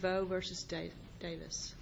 Devoe v. Davis Lorie Davis, III v. Lorie Davis, III v. Davis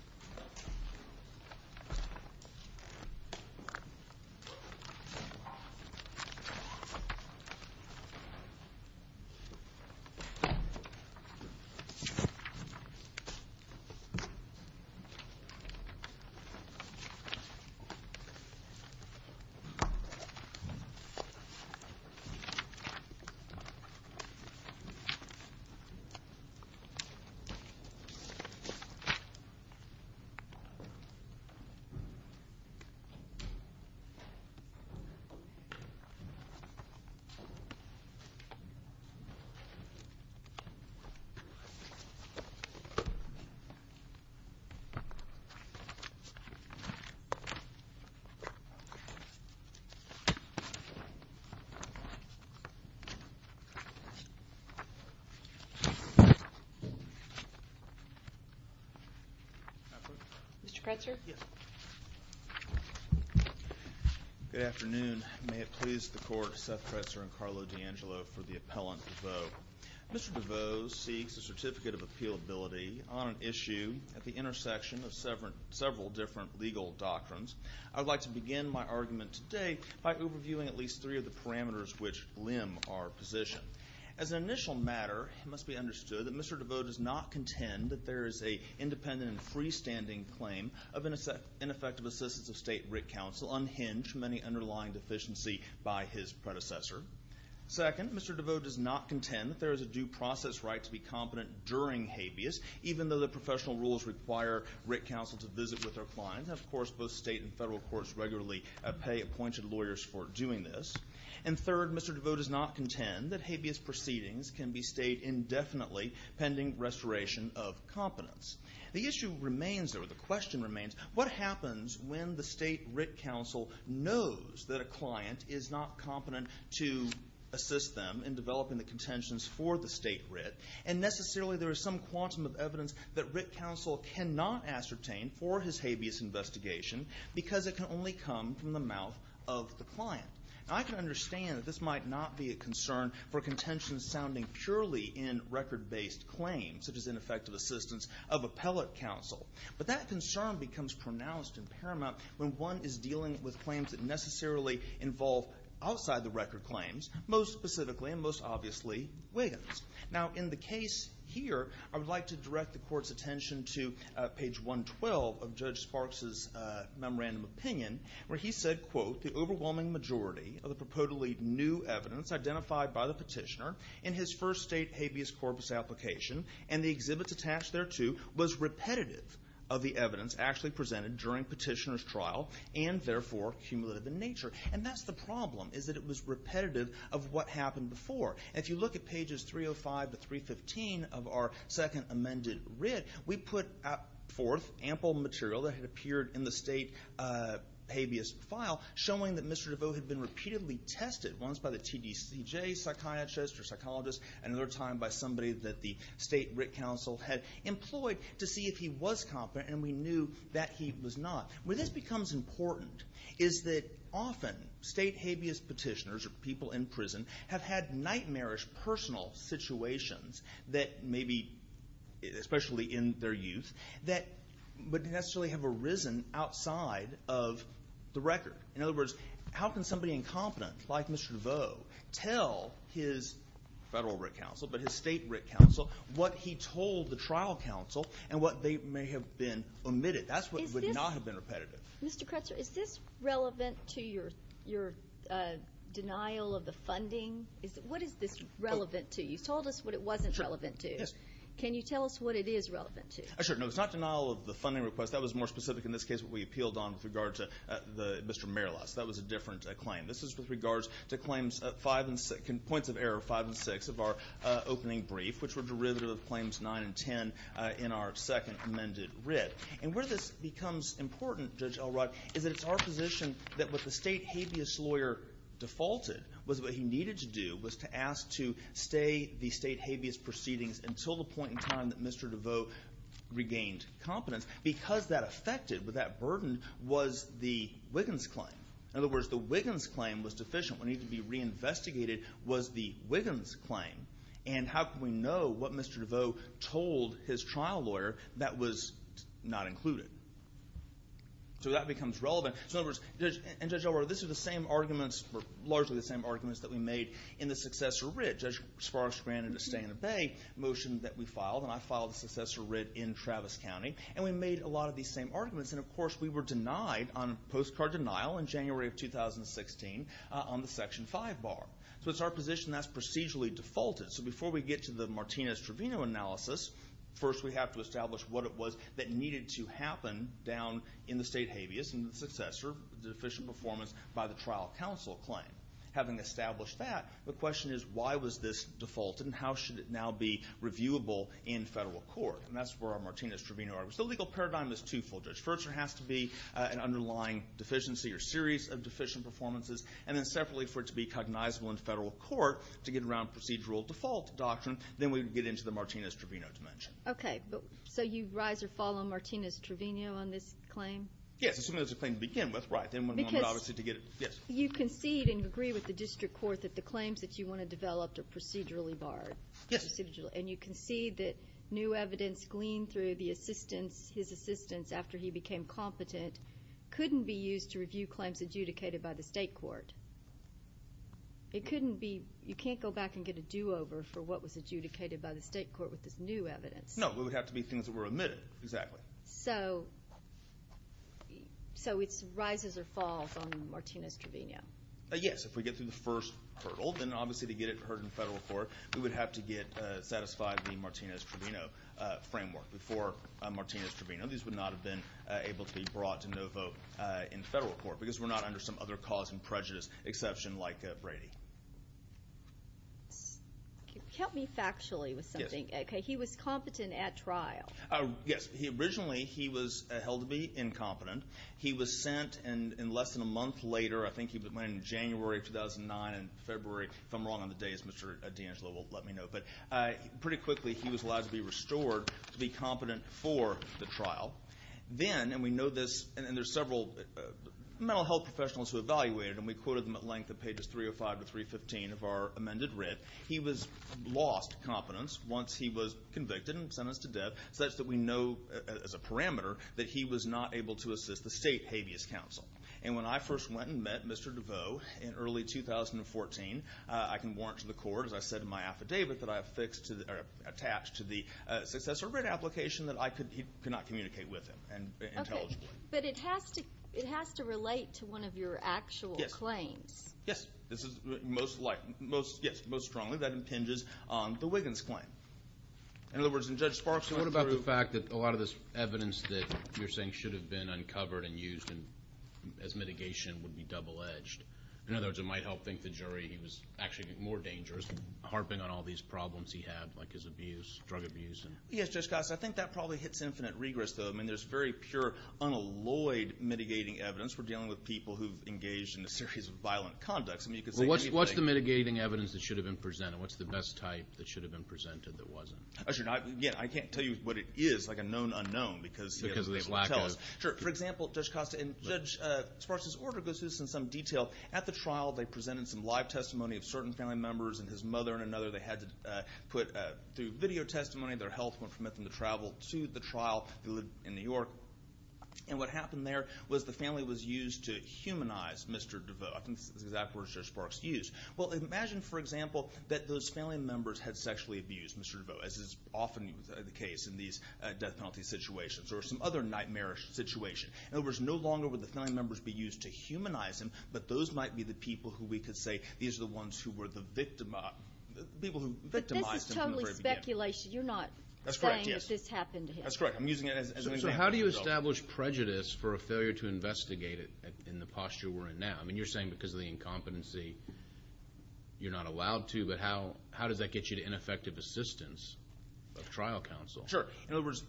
Mr. Pretzer? Yes. Good afternoon. May it please the court, Seth Pretzer and Carlo D'Angelo for the appellant Devoe. Mr. Devoe seeks a certificate of appealability on an issue at the intersection of several different legal doctrines. I would like to begin my argument today by overviewing at least three of the parameters which limb our position. As an initial matter, it must be understood that Mr. Devoe does not contend that there is an independent and freestanding claim of ineffective assistance of state writ counsel unhinged from any underlying deficiency by his predecessor. Second, Mr. Devoe does not contend that there is a due process right to be competent during habeas, even though the professional rules require writ counsel to visit with their client. Of course, both state and federal courts regularly pay appointed lawyers for doing this. And third, Mr. Devoe does not contend that habeas proceedings can be stayed indefinitely pending restoration of competence. The issue remains, or the question remains, what happens when the state writ counsel knows that a client is not competent to assist them in developing the contentions for the state writ, and necessarily there is some quantum of evidence that writ counsel cannot ascertain for his habeas investigation because it can only come from the mouth of the client. Now, I can understand that this might not be a concern for contentions sounding purely in record-based claims, such as ineffective assistance of appellate counsel. But that concern becomes pronounced and paramount when one is dealing with claims that necessarily involve outside-the-record claims, most specifically and most obviously Wiggins. Now, in the case here, I would like to direct the Court's attention to page 112 of Judge Sparks' memorandum opinion, where he said, quote, the overwhelming majority of the purportedly new evidence identified by the petitioner in his first state habeas corpus application and the exhibits attached thereto was repetitive of the evidence actually presented during petitioner's trial and, therefore, cumulative in nature. And that's the problem, is that it was repetitive of what happened before. If you look at pages 305 to 315 of our second amended writ, we put forth ample material that had appeared in the state habeas file showing that Mr. DeVoe had been repeatedly tested, once by the TDCJ psychiatrist or psychologist and another time by somebody that the state writ council had employed to see if he was competent, and we knew that he was not. Where this becomes important is that often state habeas petitioners or people in prison have had nightmarish personal situations that maybe, especially in their youth, that would necessarily have arisen outside of the record. In other words, how can somebody incompetent like Mr. DeVoe tell his federal writ council but his state writ council what he told the trial council and what they may have been omitted? That's what would not have been repetitive. Mr. Kretzer, is this relevant to your denial of the funding? What is this relevant to? You told us what it wasn't relevant to. Yes. Can you tell us what it is relevant to? Sure. No, it's not denial of the funding request. That was more specific in this case what we appealed on with regard to Mr. Merlis. That was a different claim. This is with regards to points of error 5 and 6 of our opening brief, which were derivative of claims 9 and 10 in our second amended writ. Where this becomes important, Judge Elrod, is that it's our position that what the state habeas lawyer defaulted was what he needed to do was to ask to stay the state habeas proceedings until the point in time that Mr. DeVoe regained competence. Because that affected, what that burdened, was the Wiggins claim. In other words, the Wiggins claim was deficient. What needed to be reinvestigated was the Wiggins claim. And how can we know what Mr. DeVoe told his trial lawyer that was not included? So that becomes relevant. In other words, and Judge Elrod, this is the same arguments, or largely the same arguments that we made in the successor writ. Judge Sparks granted a stay in the bay motion that we filed. And I filed a successor writ in Travis County. And we made a lot of these same arguments. And, of course, we were denied on postcard denial in January of 2016 on the Section 5 bar. So it's our position that's procedurally defaulted. So before we get to the Martinez-Trevino analysis, first we have to establish what it was that needed to happen down in the state habeas and the successor deficient performance by the trial counsel claim. Having established that, the question is why was this defaulted and how should it now be reviewable in federal court? And that's where our Martinez-Trevino arguments. The legal paradigm is twofold. First, there has to be an underlying deficiency or series of deficient performances. And then, separately, for it to be cognizable in federal court to get around procedural default doctrine, then we would get into the Martinez-Trevino dimension. Okay. So you rise or fall on Martinez-Trevino on this claim? Yes. It's a claim to begin with. Right. Because you concede and agree with the district court that the claims that you want to develop are procedurally barred. Yes. And you concede that new evidence gleaned through the assistance, his assistance after he became competent, couldn't be used to review claims adjudicated by the state court. It couldn't be. You can't go back and get a do-over for what was adjudicated by the state court No. It would have to be things that were omitted. Exactly. So it's rises or falls on Martinez-Trevino. Yes. If we get through the first hurdle, then obviously to get it heard in federal court, we would have to get satisfied the Martinez-Trevino framework before Martinez-Trevino. These would not have been able to be brought to no vote in federal court because we're not under some other cause and prejudice exception like Brady. Help me factually with something. Yes. Okay. He was competent at trial. Yes. Originally, he was held to be incompetent. He was sent, and less than a month later, I think he went in January of 2009 and February. If I'm wrong on the days, Mr. D'Angelo will let me know. But pretty quickly, he was allowed to be restored to be competent for the trial. Then, and we know this, and there's several mental health professionals who evaluated, and we quoted them at length at pages 305 to 315 of our amended writ, he lost competence once he was convicted and sentenced to death. So that's that we know as a parameter that he was not able to assist the state habeas counsel. And when I first went and met Mr. DeVoe in early 2014, I can warrant to the court, as I said in my affidavit, that I have fixed or attached to the successor writ application that he could not communicate with him intelligibly. Okay. But it has to relate to one of your actual claims. Yes. Yes. Most strongly, that impinges on the Wiggins claim. In other words, and Judge Sparks went through. So what about the fact that a lot of this evidence that you're saying should have been uncovered and used as mitigation would be double-edged? In other words, it might help think the jury he was actually more dangerous, harping on all these problems he had, like his abuse, drug abuse. Yes, Judge Scott. So I think that probably hits infinite regress, though. I mean, there's very pure, unalloyed mitigating evidence. We're dealing with people who've engaged in a series of violent conducts. I mean, you could say anything. Well, what's the mitigating evidence that should have been presented? And what's the best type that should have been presented that wasn't? Again, I can't tell you what it is, like a known unknown. Because of this lack of. Sure. For example, Judge Costa and Judge Sparks' order goes through this in some detail. At the trial, they presented some live testimony of certain family members and his mother and another they had put through video testimony. Their health wouldn't permit them to travel to the trial. They lived in New York. And what happened there was the family was used to humanize Mr. DeVoe. I think that's the exact words Judge Sparks used. Well, imagine, for example, that those family members had sexually abused Mr. DeVoe, as is often the case in these death penalty situations or some other nightmarish situation. In other words, no longer would the family members be used to humanize him, but those might be the people who we could say these are the ones who were the victimized. But this is totally speculation. You're not saying that this happened to him. That's correct, yes. That's correct. I'm using it as an example. So how do you establish prejudice for a failure to investigate it in the posture we're in now? I mean, you're saying because of the incompetency you're not allowed to, but how does that get you to ineffective assistance of trial counsel? Sure. In other words,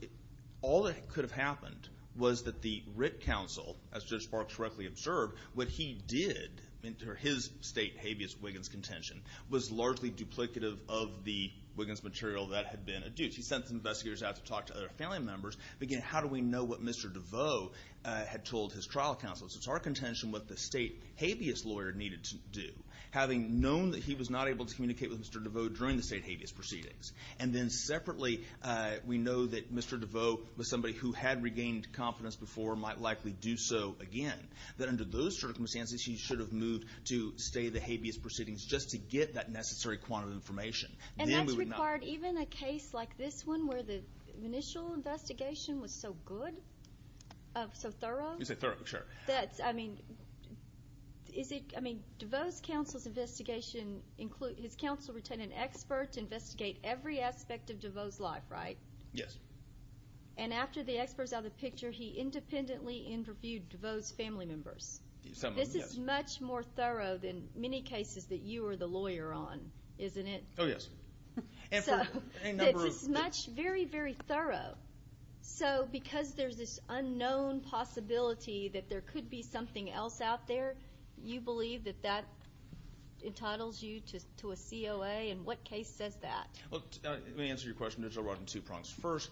all that could have happened was that the writ counsel, as Judge Sparks correctly observed, what he did in his state habeas wiggins contention, was largely duplicative of the wiggins material that had been adduced. He sent some investigators out to talk to other family members. Again, how do we know what Mr. DeVoe had told his trial counsel? It's our contention what the state habeas lawyer needed to do, having known that he was not able to communicate with Mr. DeVoe during the state habeas proceedings. And then separately, we know that Mr. DeVoe was somebody who had regained confidence before and might likely do so again, that under those circumstances, he should have moved to stay the habeas proceedings just to get that necessary quantum information. And that's required even in a case like this one where the initial investigation was so good, so thorough? You say thorough, sure. That's, I mean, is it, I mean, DeVoe's counsel's investigation includes, his counsel retained an expert to investigate every aspect of DeVoe's life, right? Yes. And after the expert's out of the picture, he independently interviewed DeVoe's family members. Someone, yes. This is much more thorough than many cases that you are the lawyer on, isn't it? Oh, yes. So, it's much, very, very thorough. So, because there's this unknown possibility that there could be something else out there, you believe that that entitles you to a COA? And what case says that? Let me answer your question, Judge O'Rourke, in two prongs. First,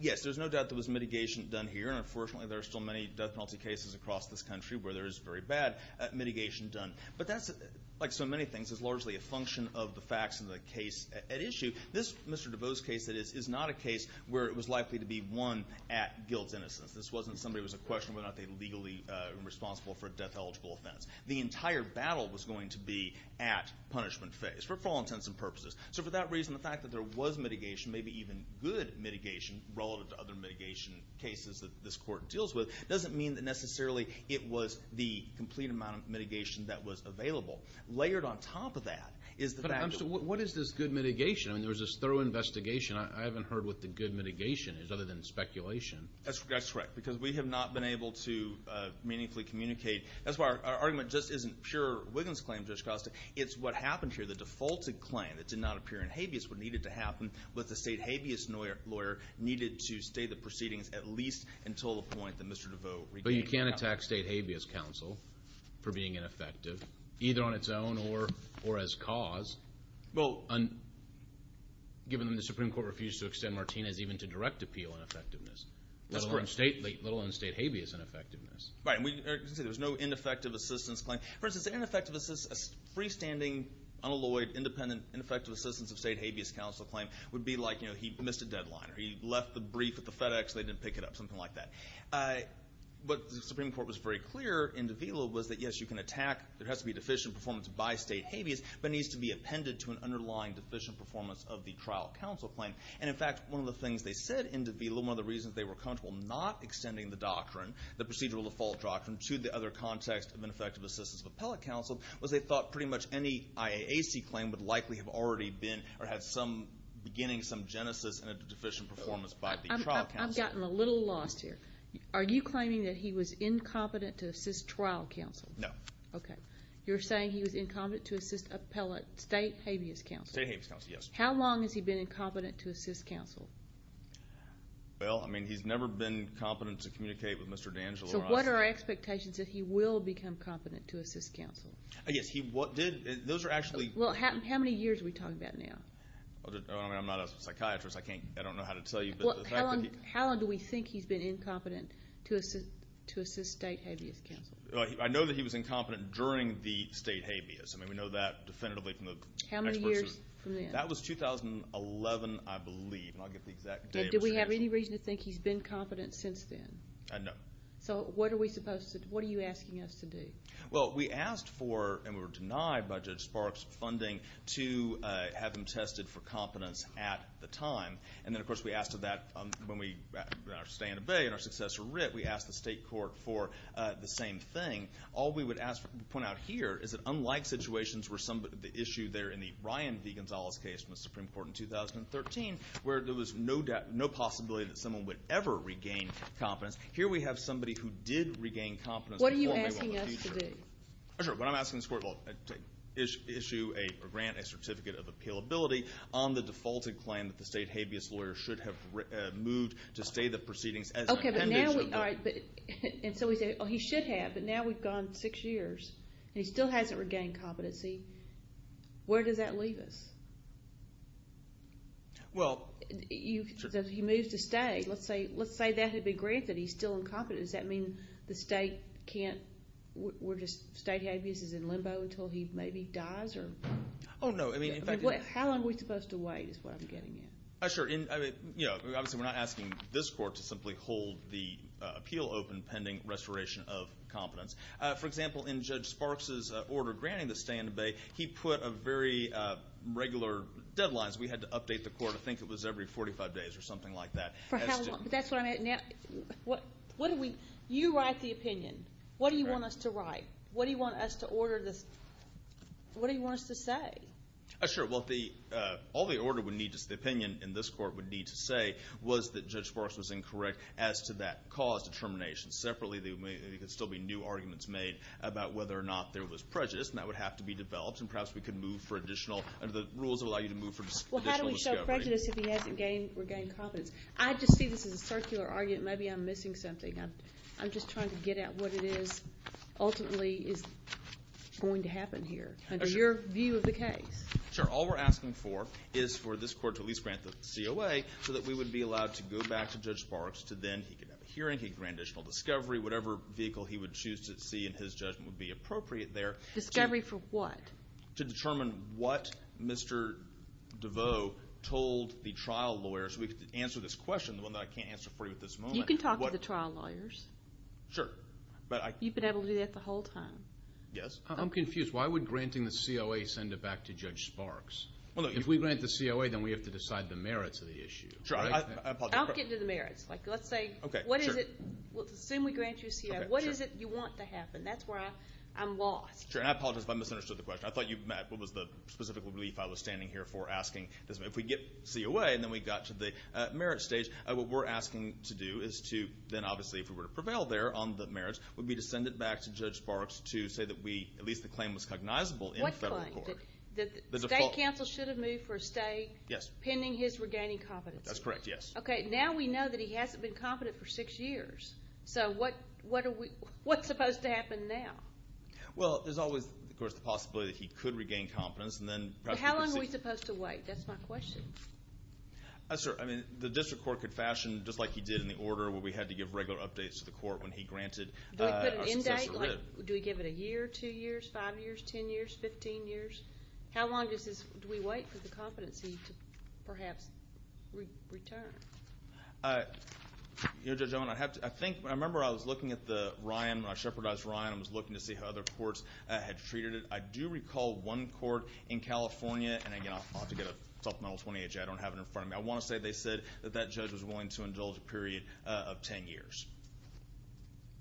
yes, there's no doubt there was mitigation done here, and unfortunately there are still many death penalty cases across this country where there is very bad mitigation done. But that's, like so many things, is largely a function of the facts of the case at issue. This Mr. DeVoe's case, that is, is not a case where it was likely to be won at guild's innocence. This wasn't somebody who was a question of whether or not they were legally responsible for a death-eligible offense. The entire battle was going to be at punishment phase, for all intents and purposes. So, for that reason, the fact that there was mitigation, maybe even good mitigation, relative to other mitigation cases that this Court deals with, doesn't mean that necessarily it was the complete amount of mitigation that was available. Layered on top of that is the fact that Well, what is this good mitigation? I mean, there was this thorough investigation. I haven't heard what the good mitigation is, other than speculation. That's correct, because we have not been able to meaningfully communicate. That's why our argument just isn't pure Wiggins claim, Judge Costa. It's what happened here, the defaulted claim that did not appear in Habeas, what needed to happen was the state Habeas lawyer needed to stay the proceedings at least until the point that Mr. DeVoe regained count. But you can't attack state Habeas counsel for being ineffective, either on its own or as cause. Well, given that the Supreme Court refused to extend Martinez even to direct appeal on effectiveness. That's correct. Let alone state Habeas on effectiveness. Right, and there was no ineffective assistance claim. For instance, an ineffective assistance, a freestanding, unalloyed, independent, ineffective assistance of state Habeas counsel claim would be like, you know, he missed a deadline or he left the brief at the FedEx and they didn't pick it up, something like that. What the Supreme Court was very clear in DeVoe was that, yes, you can attack, there has to be deficient performance by state Habeas, but it needs to be appended to an underlying deficient performance of the trial counsel claim. And, in fact, one of the things they said in DeVoe, one of the reasons they were comfortable not extending the doctrine, the procedural default doctrine, to the other context of ineffective assistance of appellate counsel was they thought pretty much any IAAC claim would likely have already been or had some beginning, some genesis, in a deficient performance by the trial counsel. I've gotten a little lost here. Are you claiming that he was incompetent to assist trial counsel? No. Okay. You're saying he was incompetent to assist appellate state Habeas counsel? State Habeas counsel, yes. How long has he been incompetent to assist counsel? Well, I mean, he's never been competent to communicate with Mr. D'Angelo. So what are our expectations that he will become competent to assist counsel? Yes, he did. Those are actually. Well, how many years are we talking about now? I'm not a psychiatrist. I can't, I don't know how to tell you. How long do we think he's been incompetent to assist state Habeas counsel? I know that he was incompetent during the state Habeas. I mean, we know that definitively from the experts. How many years from then? That was 2011, I believe, and I'll get the exact date. And do we have any reason to think he's been competent since then? No. So what are we supposed to do? What are you asking us to do? Well, we asked for, and we were denied by Judge Sparks' funding, to have him tested for competence at the time. And then, of course, we asked for that when we, in our stay in the Bay and our successor, Ritt, we asked the state court for the same thing. All we would point out here is that, unlike situations where the issue there in the Ryan v. Gonzalez case in the Supreme Court in 2013, where there was no possibility that someone would ever regain competence, here we have somebody who did regain competence. What are you asking us to do? When I'm asking this court to issue or grant a certificate of appealability on the defaulted claim that the state Habeas lawyer should have moved to stay the proceedings as an appendix. And so we say, oh, he should have, but now we've gone six years and he still hasn't regained competency. Where does that leave us? Well, sure. He moves to stay. Let's say that had been granted. He's still incompetent. Does that mean the state can't, we're just, state Habeas is in limbo until he maybe dies? Oh, no. How long are we supposed to wait is what I'm getting at. Sure. Obviously we're not asking this court to simply hold the appeal open pending restoration of competence. For example, in Judge Sparks' order granting the stay in the bay, he put a very regular deadline. We had to update the court. I think it was every 45 days or something like that. That's what I meant. You write the opinion. What do you want us to write? What do you want us to order this? What do you want us to say? Sure. Well, all the order would need is the opinion, and this court would need to say was that Judge Sparks was incorrect as to that cause determination. Separately, there could still be new arguments made about whether or not there was prejudice, and that would have to be developed, and perhaps we could move for additional, under the rules it would allow you to move for additional discovery. Well, how do we show prejudice if he hasn't regained competence? I just see this as a circular argument. Maybe I'm missing something. I'm just trying to get at what it is ultimately is going to happen here. Under your view of the case. Sure. All we're asking for is for this court to at least grant the COA so that we would be allowed to go back to Judge Sparks, to then he could have a hearing, he could grant additional discovery, whatever vehicle he would choose to see in his judgment would be appropriate there. Discovery for what? To determine what Mr. DeVoe told the trial lawyers. We could answer this question, the one that I can't answer for you at this moment. You can talk to the trial lawyers. Sure. You've been able to do that the whole time. Yes. I'm confused. Why would granting the COA send it back to Judge Sparks? If we grant the COA, then we have to decide the merits of the issue. Sure. I apologize. I'll get to the merits. Let's say what is it? Assume we grant you a COA. What is it you want to happen? That's where I'm lost. Sure, and I apologize if I misunderstood the question. I thought you meant what was the specific belief I was standing here for asking. If we get COA and then we got to the merits stage, what we're asking to do is to then obviously if we were to prevail there on the merits, we'd be to send it back to Judge Sparks to say that at least the claim was cognizable in federal court. What claim? The default. State counsel should have moved for a stay pending his regaining competency. That's correct, yes. Okay, now we know that he hasn't been competent for six years. So what's supposed to happen now? Well, there's always, of course, the possibility that he could regain competence. How long are we supposed to wait? That's my question. The district court could fashion just like he did in the order where we had to give regular updates to the court when he granted a successor writ. Do we put an end date? Do we give it a year, two years, five years, ten years, 15 years? How long do we wait for the competency to perhaps return? You know, Judge Owen, I think I remember I was looking at the Ryan. When I shepherdized Ryan, I was looking to see how other courts had treated it. I do recall one court in California, and, again, I'll have to get a supplemental 20H. I don't have it in front of me. I want to say they said that that judge was willing to indulge a period of ten years.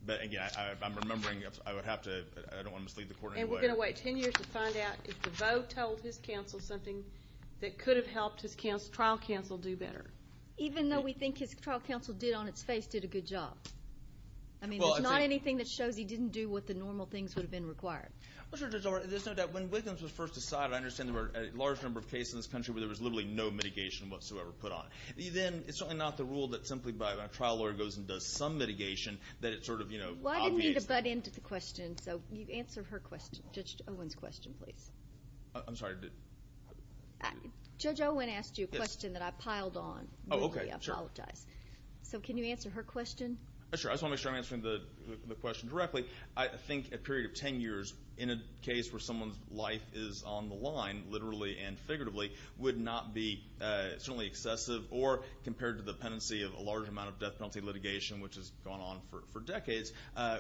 But, again, I'm remembering I would have to. I don't want to mislead the court in any way. And we're going to wait ten years to find out if the vote told his counsel something that could have helped his trial counsel do better. Even though we think his trial counsel did, on its face, did a good job. I mean, there's not anything that shows he didn't do what the normal things would have been required. Well, Judge Owen, there's no doubt. When Wiggins was first decided, I understand there were a large number of cases in this country where there was literally no mitigation whatsoever put on. Then it's certainly not the rule that simply a trial lawyer goes and does some mitigation that it sort of, you know, obviates that. I didn't mean to butt into the question, so you answer her question, Judge Owen's question, please. I'm sorry. Judge Owen asked you a question that I piled on. Oh, okay. I apologize. So can you answer her question? Sure. I just want to make sure I'm answering the question directly. I think a period of ten years in a case where someone's life is on the line, literally and figuratively, would not be certainly excessive, or compared to the pendency of a large amount of death penalty litigation, which has gone on for decades,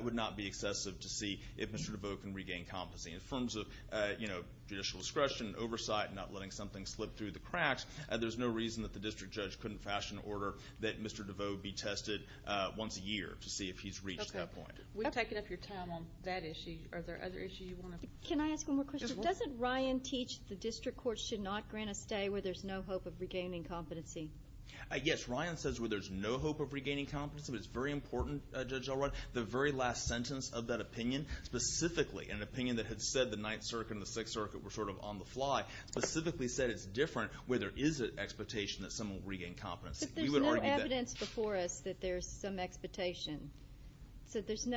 would not be excessive to see if Mr. DeVoe can regain competency. In terms of, you know, judicial discretion, oversight, not letting something slip through the cracks, there's no reason that the district judge couldn't fashion an order that Mr. DeVoe be tested once a year to see if he's reached that point. Okay. We've taken up your time on that issue. Are there other issues you want to? Can I ask one more question? Doesn't Ryan teach the district court should not grant a stay where there's no hope of regaining competency? Yes. Ryan says where there's no hope of regaining competency, but it's very important, Judge Elrod, the very last sentence of that opinion, specifically an opinion that had said the Ninth Circuit and the Sixth Circuit were sort of on the fly, specifically said it's different where there is an expectation that someone will regain competency. But there's no evidence before us that there's some expectation. So there's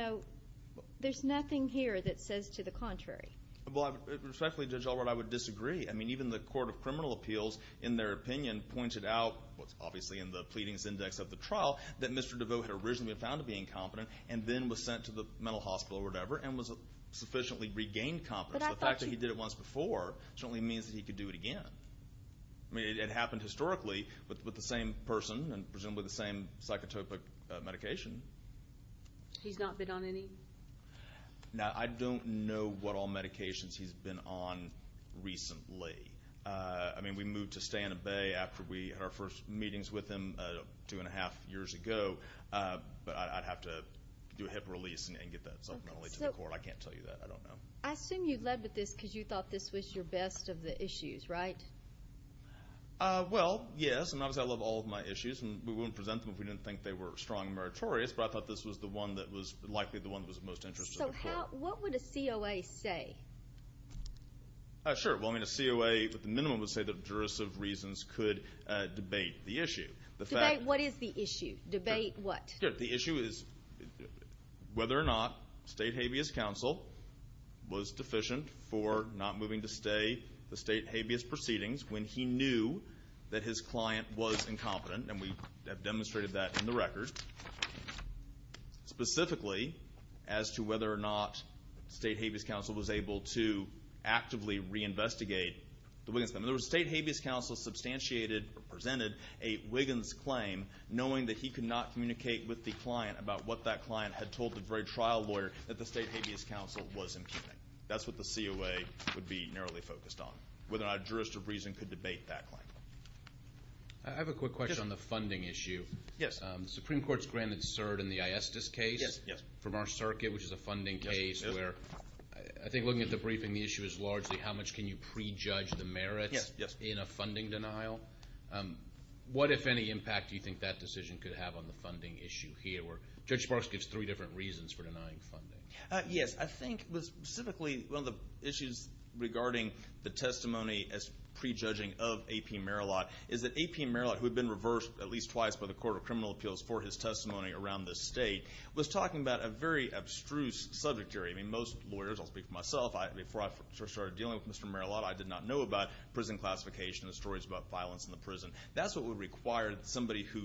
nothing here that says to the contrary. Well, respectfully, Judge Elrod, I would disagree. I mean, even the Court of Criminal Appeals, in their opinion, pointed out, what's obviously in the pleadings index of the trial, that Mr. DeVoe had originally been found to be incompetent and then was sent to the mental hospital or whatever and was sufficiently regained competence. The fact that he did it once before certainly means that he could do it again. I mean, it happened historically with the same person and presumably the same psychotropic medication. He's not bid on any? Now, I don't know what all medications he's been on recently. I mean, we moved to stay in a bay after we had our first meetings with him two and a half years ago, but I'd have to do a hip release and get that supplementally to the court. I can't tell you that. I don't know. I assume you led with this because you thought this was your best of the issues, right? Well, yes, and obviously I love all of my issues, and we wouldn't present them if we didn't think they were strong and meritorious, but I thought this was the one that was likely the one that was of most interest to the court. So what would a COA say? Sure. Well, I mean, a COA at the minimum would say that jurisdictive reasons could debate the issue. What is the issue? Debate what? The issue is whether or not state habeas counsel was deficient for not moving to stay, the state habeas proceedings when he knew that his client was incompetent, and we have demonstrated that in the record, specifically as to whether or not state habeas counsel was able to actively reinvestigate the Wiggins claim. In other words, state habeas counsel substantiated or presented a Wiggins claim knowing that he could not communicate with the client about what that client had told the very trial lawyer that the state habeas counsel was incompetent. That's what the COA would be narrowly focused on, whether or not jurisdictive reason could debate that claim. I have a quick question on the funding issue. Yes. The Supreme Court's granted cert in the ISDIS case from our circuit, which is a funding case where I think looking at the briefing, the issue is largely how much can you prejudge the merits in a funding denial. What, if any, impact do you think that decision could have on the funding issue here where Judge Sparks gives three different reasons for denying funding? Yes. I think specifically one of the issues regarding the testimony as prejudging of A.P. Merillat is that A.P. Merillat, who had been reversed at least twice by the Court of Criminal Appeals for his testimony around this state, was talking about a very abstruse subject area. Most lawyers, I'll speak for myself, before I started dealing with Mr. Merillat, I did not know about prison classification and stories about violence in the prison. That's what would require somebody who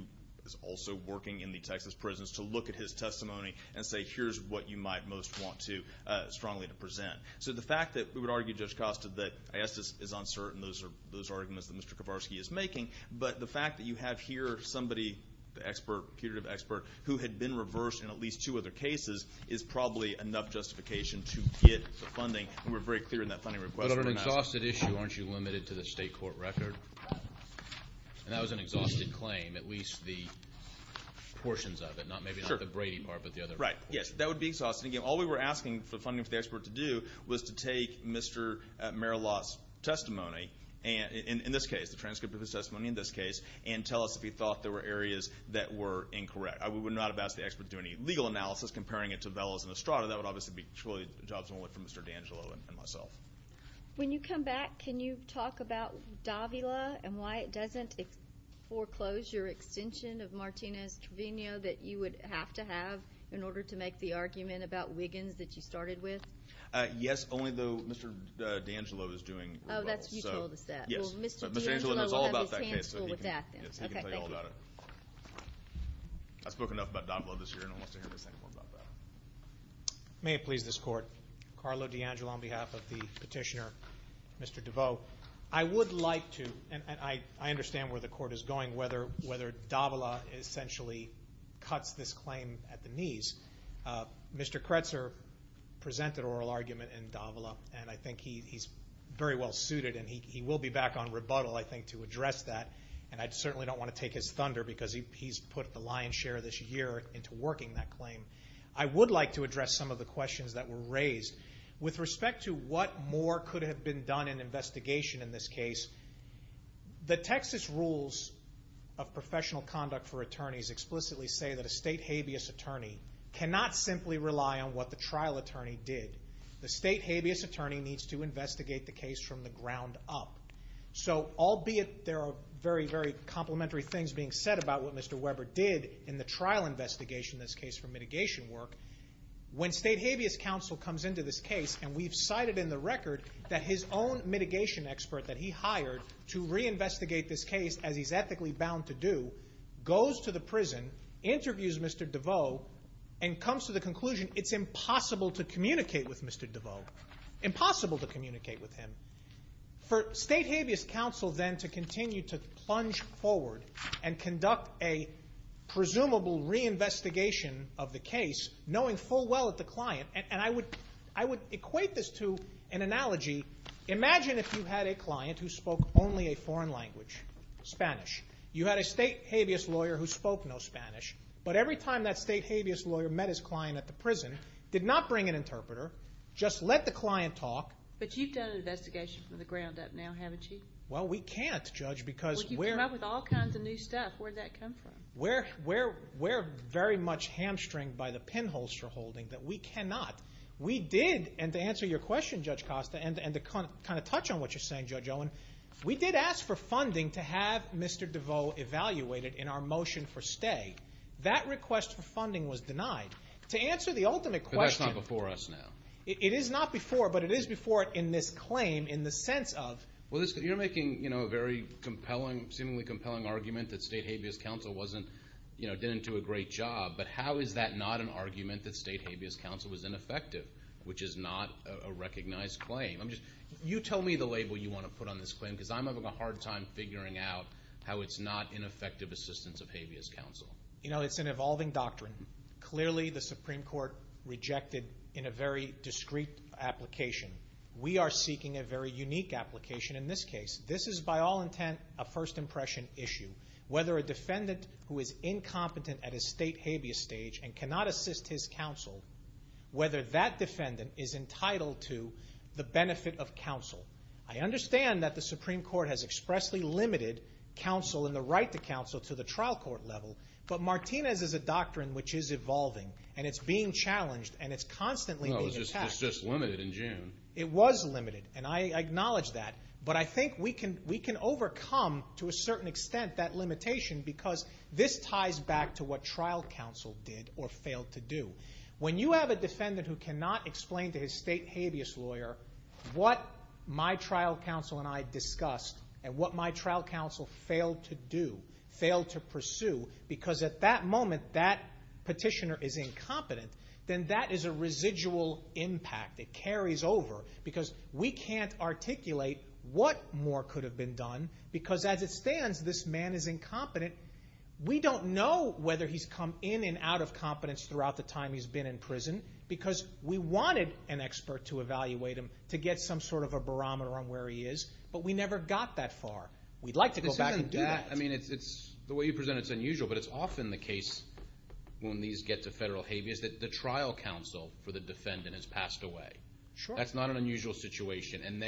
is also working in the Texas prisons to look at his testimony and say, here's what you might most want to strongly present. So the fact that we would argue, Judge Costa, that ISDIS is uncertain, those are those arguments that Mr. Kovarski is making, but the fact that you have here somebody, the expert, a punitive expert who had been reversed in at least two other cases is probably enough justification to get the funding. And we're very clear in that funding request. But on an exhausted issue, aren't you limited to the state court record? And that was an exhausted claim, at least the portions of it. Maybe not the Brady part, but the other portions. Right. Yes, that would be exhausting. Again, all we were asking for funding for the expert to do was to take Mr. Merillat's testimony, in this case, the transcript of his testimony in this case, and tell us if he thought there were areas that were incorrect. I would not have asked the expert to do any legal analysis comparing it to Velas and Estrada. That would obviously be truly a job for Mr. D'Angelo and myself. When you come back, can you talk about Davila and why it doesn't foreclose your extension of Martinez-Trevino that you would have to have in order to make the argument about Wiggins that you started with? Yes, only though Mr. D'Angelo is doing well. Oh, that's why you told us that. Yes. Well, Mr. D'Angelo will have his hands full with that, then. Yes, he can tell you all about it. Okay, thank you. I've spoken enough about Davila this year, and I want to hear the second one about that. May it please this Court, Carlo D'Angelo on behalf of the petitioner, Mr. DeVoe. I would like to, and I understand where the Court is going, whether Davila essentially cuts this claim at the knees. Mr. Kretzer presented oral argument in Davila, and I think he's very well suited, and he will be back on rebuttal, I think, to address that, and I certainly don't want to take his thunder because he's put the lion's share this year into working that claim. I would like to address some of the questions that were raised. With respect to what more could have been done in investigation in this case, the Texas Rules of Professional Conduct for Attorneys explicitly say that a state habeas attorney cannot simply rely on what the trial attorney did. The state habeas attorney needs to investigate the case from the ground up. So, albeit there are very, very complimentary things being said about what Mr. Weber did in the trial investigation in this case for mitigation work, when state habeas counsel comes into this case, and we've cited in the record that his own mitigation expert that he hired to reinvestigate this case as he's ethically bound to do, goes to the prison, interviews Mr. DeVoe, and comes to the conclusion it's impossible to communicate with Mr. DeVoe, impossible to communicate with him. For state habeas counsel then to continue to plunge forward and conduct a presumable reinvestigation of the case, knowing full well that the client, and I would equate this to an analogy. Imagine if you had a client who spoke only a foreign language, Spanish. You had a state habeas lawyer who spoke no Spanish, but every time that state habeas lawyer met his client at the prison, did not bring an interpreter, just let the client talk. But you've done an investigation from the ground up now, haven't you? Well, we can't, Judge, because we're in the middle of a job with all kinds of new stuff. Where did that come from? We're very much hamstringed by the pinholster holding that we cannot. We did, and to answer your question, Judge Costa, and to kind of touch on what you're saying, Judge Owen, we did ask for funding to have Mr. DeVoe evaluated in our motion for stay. That request for funding was denied. To answer the ultimate question. But that's not before us now. It is not before, but it is before in this claim in the sense of. Well, you're making a very compelling, seemingly compelling argument that state habeas counsel didn't do a great job. But how is that not an argument that state habeas counsel was ineffective, which is not a recognized claim? You tell me the label you want to put on this claim, because I'm having a hard time figuring out how it's not ineffective assistance of habeas counsel. You know, it's an evolving doctrine. Clearly the Supreme Court rejected in a very discreet application. We are seeking a very unique application in this case. This is by all intent a first impression issue. Whether a defendant who is incompetent at a state habeas stage and cannot assist his counsel, whether that defendant is entitled to the benefit of counsel. I understand that the Supreme Court has expressly limited counsel and the right to counsel to the trial court level, but Martinez is a doctrine which is evolving, and it's being challenged, and it's constantly being attacked. It's just limited in June. It was limited, and I acknowledge that. But I think we can overcome to a certain extent that limitation because this ties back to what trial counsel did or failed to do. When you have a defendant who cannot explain to his state habeas lawyer what my trial counsel and I discussed and what my trial counsel failed to do, failed to pursue, because at that moment that petitioner is incompetent, then that is a residual impact. It carries over because we can't articulate what more could have been done because as it stands this man is incompetent. We don't know whether he's come in and out of competence throughout the time he's been in prison because we wanted an expert to evaluate him to get some sort of a barometer on where he is, but we never got that far. We'd like to go back and do that. The way you present it is unusual, but it's often the case when these get to federal habeas that the trial counsel for the defendant has passed away. That's not an unusual situation, and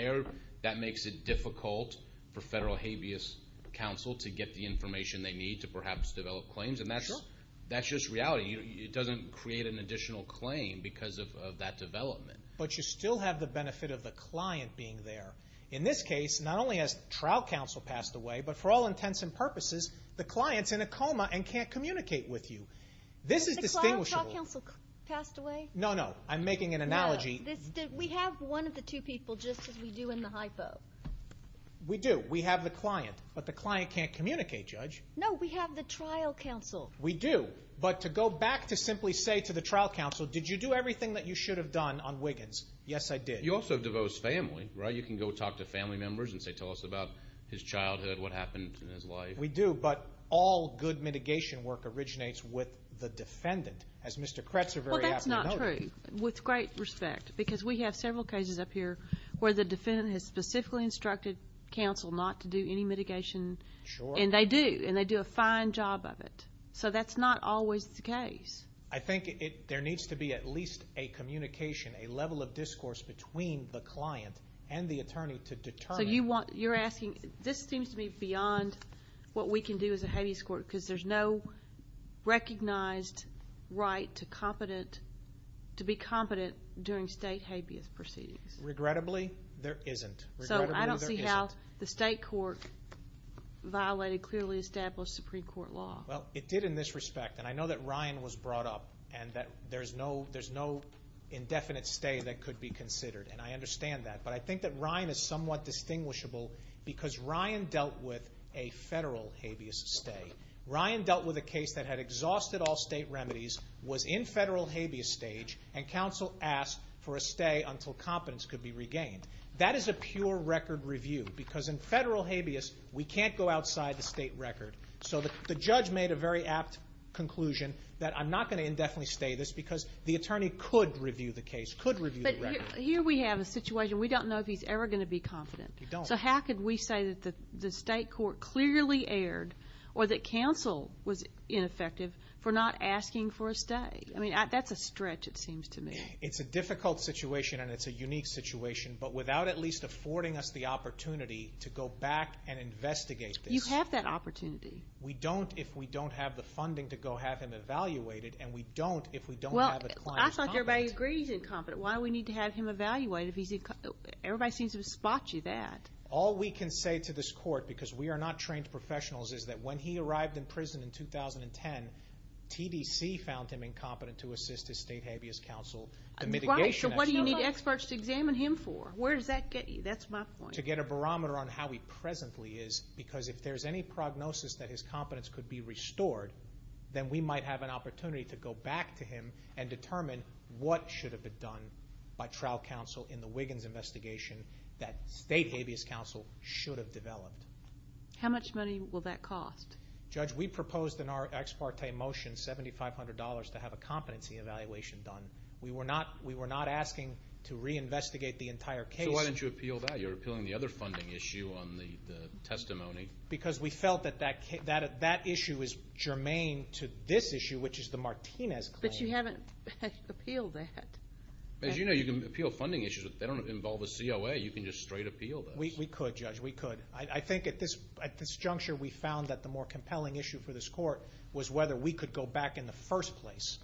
that makes it difficult for federal habeas counsel to get the information they need to perhaps develop claims, and that's just reality. It doesn't create an additional claim because of that development. But you still have the benefit of the client being there. In this case, not only has trial counsel passed away, but for all intents and purposes the client's in a coma and can't communicate with you. Has the trial counsel passed away? No, no, I'm making an analogy. We have one of the two people just as we do in the hypo. We do. We have the client, but the client can't communicate, Judge. No, we have the trial counsel. We do, but to go back to simply say to the trial counsel, did you do everything that you should have done on Wiggins? Yes, I did. You also have devosed family, right? You can go talk to family members and say, tell us about his childhood, what happened in his life. We do, but all good mitigation work originates with the defendant, as Mr. Kretzer very aptly noted. Well, that's not true, with great respect, because we have several cases up here where the defendant has specifically instructed counsel not to do any mitigation, and they do, and they do a fine job of it. So that's not always the case. I think there needs to be at least a communication, a level of discourse between the client and the attorney to determine. So you're asking, this seems to me beyond what we can do as a habeas court, because there's no recognized right to be competent during state habeas proceedings. Regrettably, there isn't. So I don't see how the state court violated clearly established Supreme Court law. Well, it did in this respect, and I know that Ryan was brought up and that there's no indefinite stay that could be considered, and I understand that. But I think that Ryan is somewhat distinguishable because Ryan dealt with a federal habeas stay. Ryan dealt with a case that had exhausted all state remedies, was in federal habeas stage, and counsel asked for a stay until competence could be regained. That is a pure record review, because in federal habeas, we can't go outside the state record. So the judge made a very apt conclusion that I'm not going to indefinitely stay this because the attorney could review the case, could review the record. But here we have a situation. We don't know if he's ever going to be confident. We don't. So how could we say that the state court clearly erred or that counsel was ineffective for not asking for a stay? I mean, that's a stretch, it seems to me. It's a difficult situation, and it's a unique situation, but without at least affording us the opportunity to go back and investigate this. You have that opportunity. We don't if we don't have the funding to go have him evaluated, and we don't if we don't have a client competent. Well, I thought everybody agreed he's incompetent. Why do we need to have him evaluated if he's incompetent? Everybody seems to spot you that. All we can say to this court, because we are not trained professionals, is that when he arrived in prison in 2010, TDC found him incompetent to assist his state habeas counsel. Right, so what do you need experts to examine him for? Where does that get you? That's my point. To get a barometer on how he presently is, because if there's any prognosis that his competence could be restored, then we might have an opportunity to go back to him and determine what should have been done by trial counsel in the Wiggins investigation that state habeas counsel should have developed. How much money will that cost? Judge, we proposed in our ex parte motion $7,500 to have a competency evaluation done. We were not asking to reinvestigate the entire case. So why didn't you appeal that? You're appealing the other funding issue on the testimony. Because we felt that that issue is germane to this issue, which is the Martinez claim. But you haven't appealed that. As you know, you can appeal funding issues. They don't involve a COA. You can just straight appeal this. We could, Judge, we could. I think at this juncture we found that the more compelling issue for this court was whether we could go back in the first place.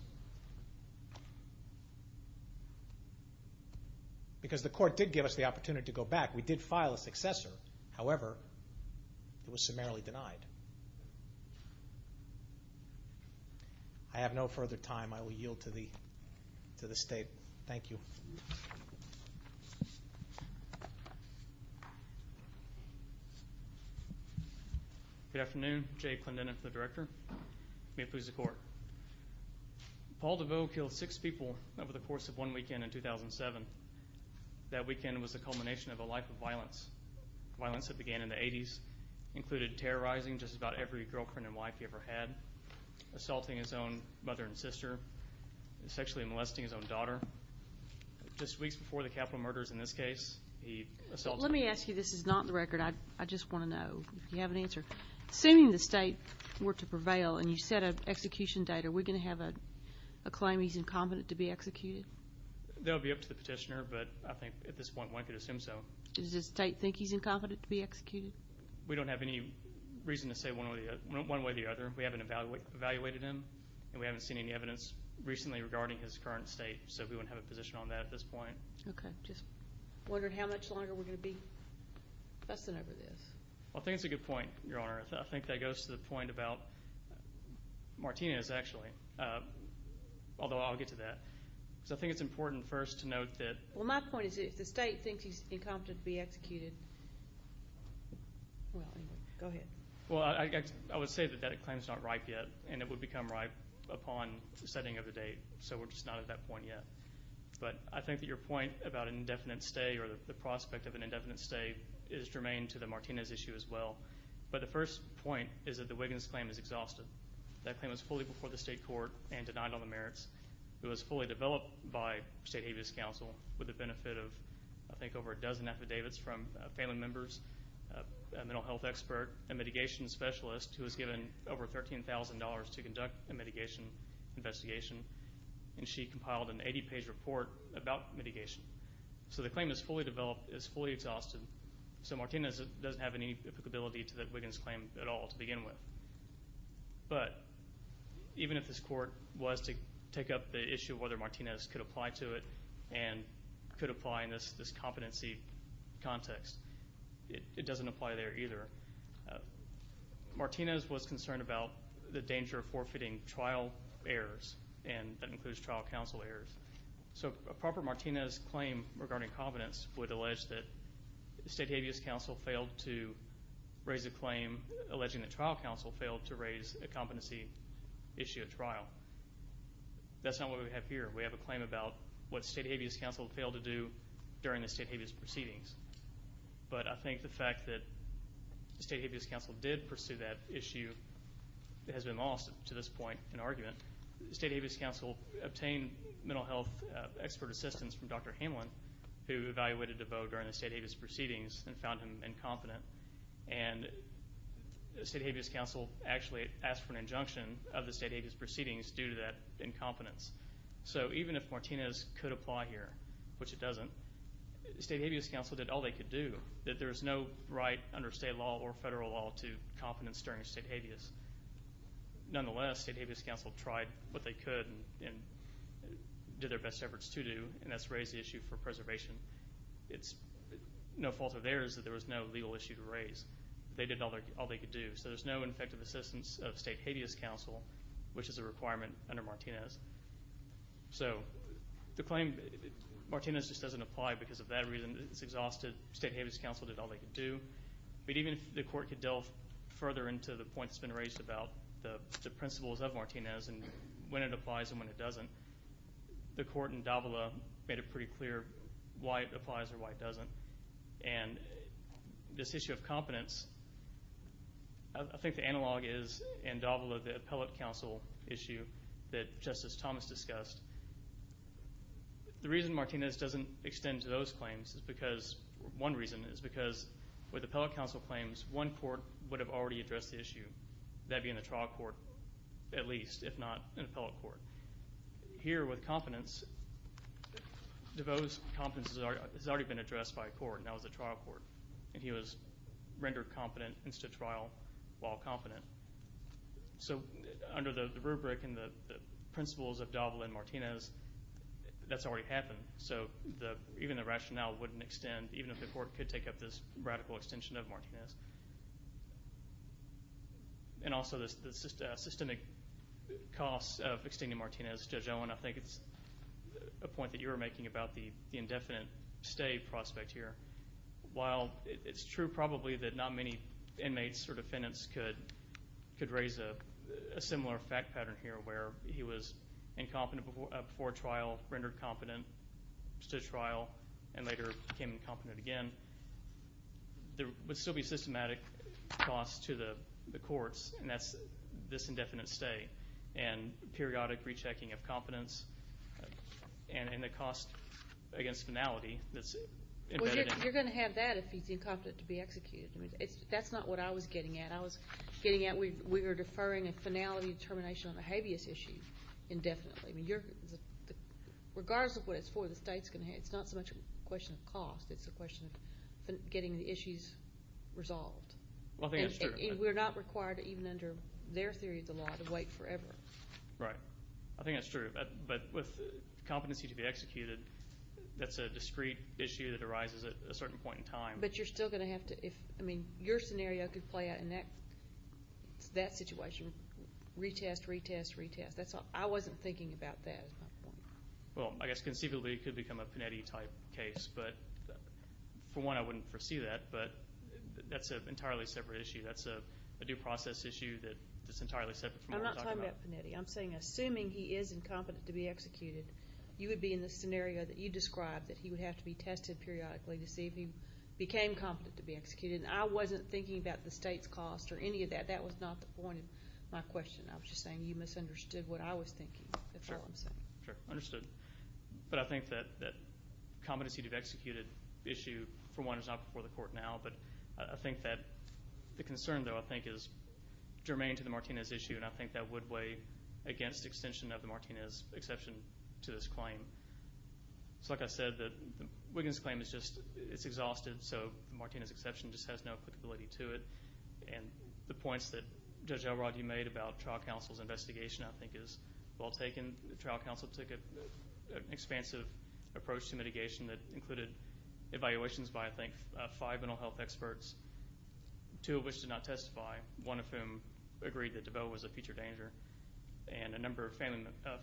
Because the court did give us the opportunity to go back. We did file a successor. However, it was summarily denied. I have no further time. I will yield to the State. Thank you. Good afternoon. Jay Clendenin for the Director. May it please the Court. Paul DeVoe killed six people over the course of one weekend in 2007. That weekend was the culmination of a life of violence, violence that began in the 80s. It included terrorizing just about every girlfriend and wife he ever had, assaulting his own mother and sister, sexually molesting his own daughter. Just weeks before the capital murders in this case, he assaulted. Let me ask you. This is not in the record. I just want to know if you have an answer. Assuming the State were to prevail and you set an execution date, are we going to have a claim he's incompetent to be executed? That would be up to the petitioner, but I think at this point one could assume so. Does the State think he's incompetent to be executed? We don't have any reason to say one way or the other. We haven't evaluated him, and we haven't seen any evidence recently regarding his current state, so we wouldn't have a position on that at this point. Okay. Just wondering how much longer we're going to be fussing over this. I think it's a good point, Your Honor. I think that goes to the point about Martinez, actually, although I'll get to that. So I think it's important first to note that— Well, my point is if the State thinks he's incompetent to be executed, well, anyway, go ahead. Well, I would say that that claim is not ripe yet, and it would become ripe upon the setting of the date, so we're just not at that point yet. But I think that your point about an indefinite stay or the prospect of an indefinite stay is germane to the Martinez issue as well. But the first point is that the Wiggins claim is exhausted. That claim was fully before the State court and denied on the merits. It was fully developed by State Habeas Council with the benefit of, I think, over a dozen affidavits from family members, a mental health expert, a mitigation specialist who was given over $13,000 to conduct a mitigation investigation, and she compiled an 80-page report about mitigation. So the claim is fully developed, is fully exhausted, so Martinez doesn't have any applicability to the Wiggins claim at all to begin with. But even if this court was to take up the issue of whether Martinez could apply to it and could apply in this competency context, it doesn't apply there either. Martinez was concerned about the danger of forfeiting trial errors, and that includes trial counsel errors. So a proper Martinez claim regarding competence would allege that State Habeas Council failed to raise a claim alleging that trial counsel failed to raise a competency issue at trial. That's not what we have here. We have a claim about what State Habeas Council failed to do during the State Habeas proceedings. But I think the fact that State Habeas Council did pursue that issue has been lost to this point in argument. State Habeas Council obtained mental health expert assistance from Dr. Hamlin, who evaluated DeVoe during the State Habeas proceedings and found him incompetent. And State Habeas Council actually asked for an injunction of the State Habeas proceedings due to that incompetence. So even if Martinez could apply here, which it doesn't, State Habeas Council did all they could do. There is no right under state law or federal law to competence during State Habeas. Nonetheless, State Habeas Council tried what they could and did their best efforts to do, and that's raise the issue for preservation. It's no fault of theirs that there was no legal issue to raise. They did all they could do. So there's no effective assistance of State Habeas Council, which is a requirement under Martinez. So the claim, Martinez just doesn't apply because of that reason. It's exhausted. State Habeas Council did all they could do. But even if the Court could delve further into the point that's been raised about the principles of Martinez and when it applies and when it doesn't, the Court in Davila made it pretty clear why it applies or why it doesn't. And this issue of competence, I think the analog is in Davila, the Appellate Council issue that Justice Thomas discussed. The reason Martinez doesn't extend to those claims is because, one reason, is because with Appellate Council claims, one court would have already addressed the issue, that being the trial court at least, if not an appellate court. Here with competence, Davila's competence has already been addressed by a court, and that was the trial court. And he was rendered competent in the trial while competent. So under the rubric and the principles of Davila and Martinez, that's already happened. So even the rationale wouldn't extend, even if the Court could take up this radical extension of Martinez. And also the systemic costs of extending Martinez. Judge Owen, I think it's a point that you were making about the indefinite stay prospect here. While it's true probably that not many inmates or defendants could raise a similar fact pattern here, where he was incompetent before trial, rendered competent, stood trial, and later became incompetent again. There would still be systematic costs to the courts, and that's this indefinite stay and periodic rechecking of competence and the cost against finality. You're going to have that if he's incompetent to be executed. That's not what I was getting at. We were deferring a finality determination on a habeas issue indefinitely. Regardless of what it's for, the state's going to have it. It's not so much a question of cost. It's a question of getting the issues resolved. We're not required, even under their theory of the law, to wait forever. Right. I think that's true. But with competency to be executed, that's a discrete issue that arises at a certain point in time. But you're still going to have to, I mean, your scenario could play out in that situation, retest, retest, retest. I wasn't thinking about that. Well, I guess conceivably it could become a Panetti-type case. But for one, I wouldn't foresee that, but that's an entirely separate issue. That's a due process issue that's entirely separate from what we're talking about. I'm not talking about Panetti. I'm saying assuming he is incompetent to be executed, you would be in the scenario that you described that he would have to be tested periodically to see if he became competent to be executed. And I wasn't thinking about the state's cost or any of that. That was not the point of my question. I was just saying you misunderstood what I was thinking. Sure, sure, understood. But I think that competency to be executed issue, for one, is not before the court now. But I think that the concern, though, I think is germane to the Martinez issue, and I think that would weigh against extension of the Martinez exception to this claim. Like I said, Wiggins' claim is just exhausted, so the Martinez exception just has no applicability to it. And the points that Judge Elrod, you made about trial counsel's investigation, I think, is well taken. The trial counsel took an expansive approach to mitigation that included evaluations by, I think, five mental health experts, two of which did not testify, one of whom agreed that DeVoe was a future danger, and a number of family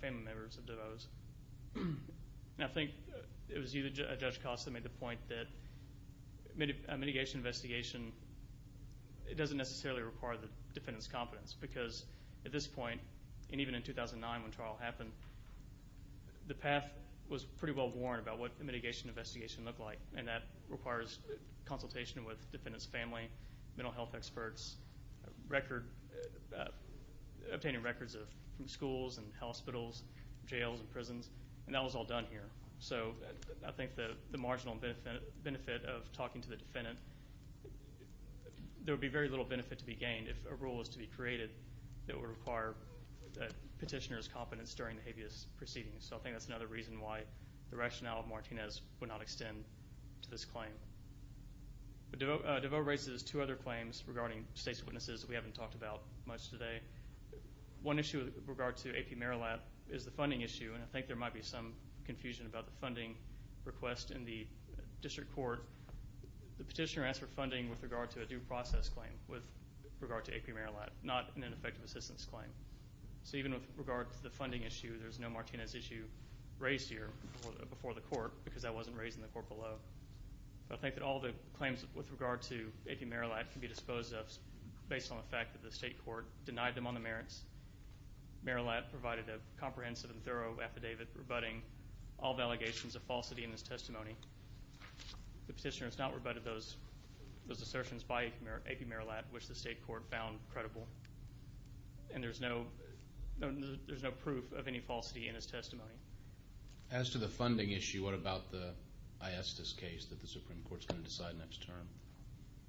members of DeVoe's. And I think it was you, Judge Costa, that made the point that mitigation investigation, it doesn't necessarily require the defendant's competence because at this point, and even in 2009 when the trial happened, the path was pretty well worn about what the mitigation investigation looked like, and that requires consultation with the defendant's family, mental health experts, obtaining records from schools and hospitals, jails and prisons, and that was all done here. So I think the marginal benefit of talking to the defendant, there would be very little benefit to be gained if a rule was to be created that would require the petitioner's competence during the habeas proceedings. So I think that's another reason why the rationale of Martinez would not extend to this claim. DeVoe raises two other claims regarding state's witnesses that we haven't talked about much today. One issue with regard to AP Marillat is the funding issue, and I think there might be some confusion about the funding request in the district court. The petitioner asked for funding with regard to a due process claim with regard to AP Marillat, not an ineffective assistance claim. So even with regard to the funding issue, there's no Martinez issue raised here before the court because that wasn't raised in the court below. I think that all the claims with regard to AP Marillat can be disposed of based on the fact that the state court denied them on the merits. Marillat provided a comprehensive and thorough affidavit rebutting all the allegations of falsity in his testimony. The petitioner has not rebutted those assertions by AP Marillat, which the state court found credible, and there's no proof of any falsity in his testimony. As to the funding issue, what about the ISDIS case that the Supreme Court is going to decide next term?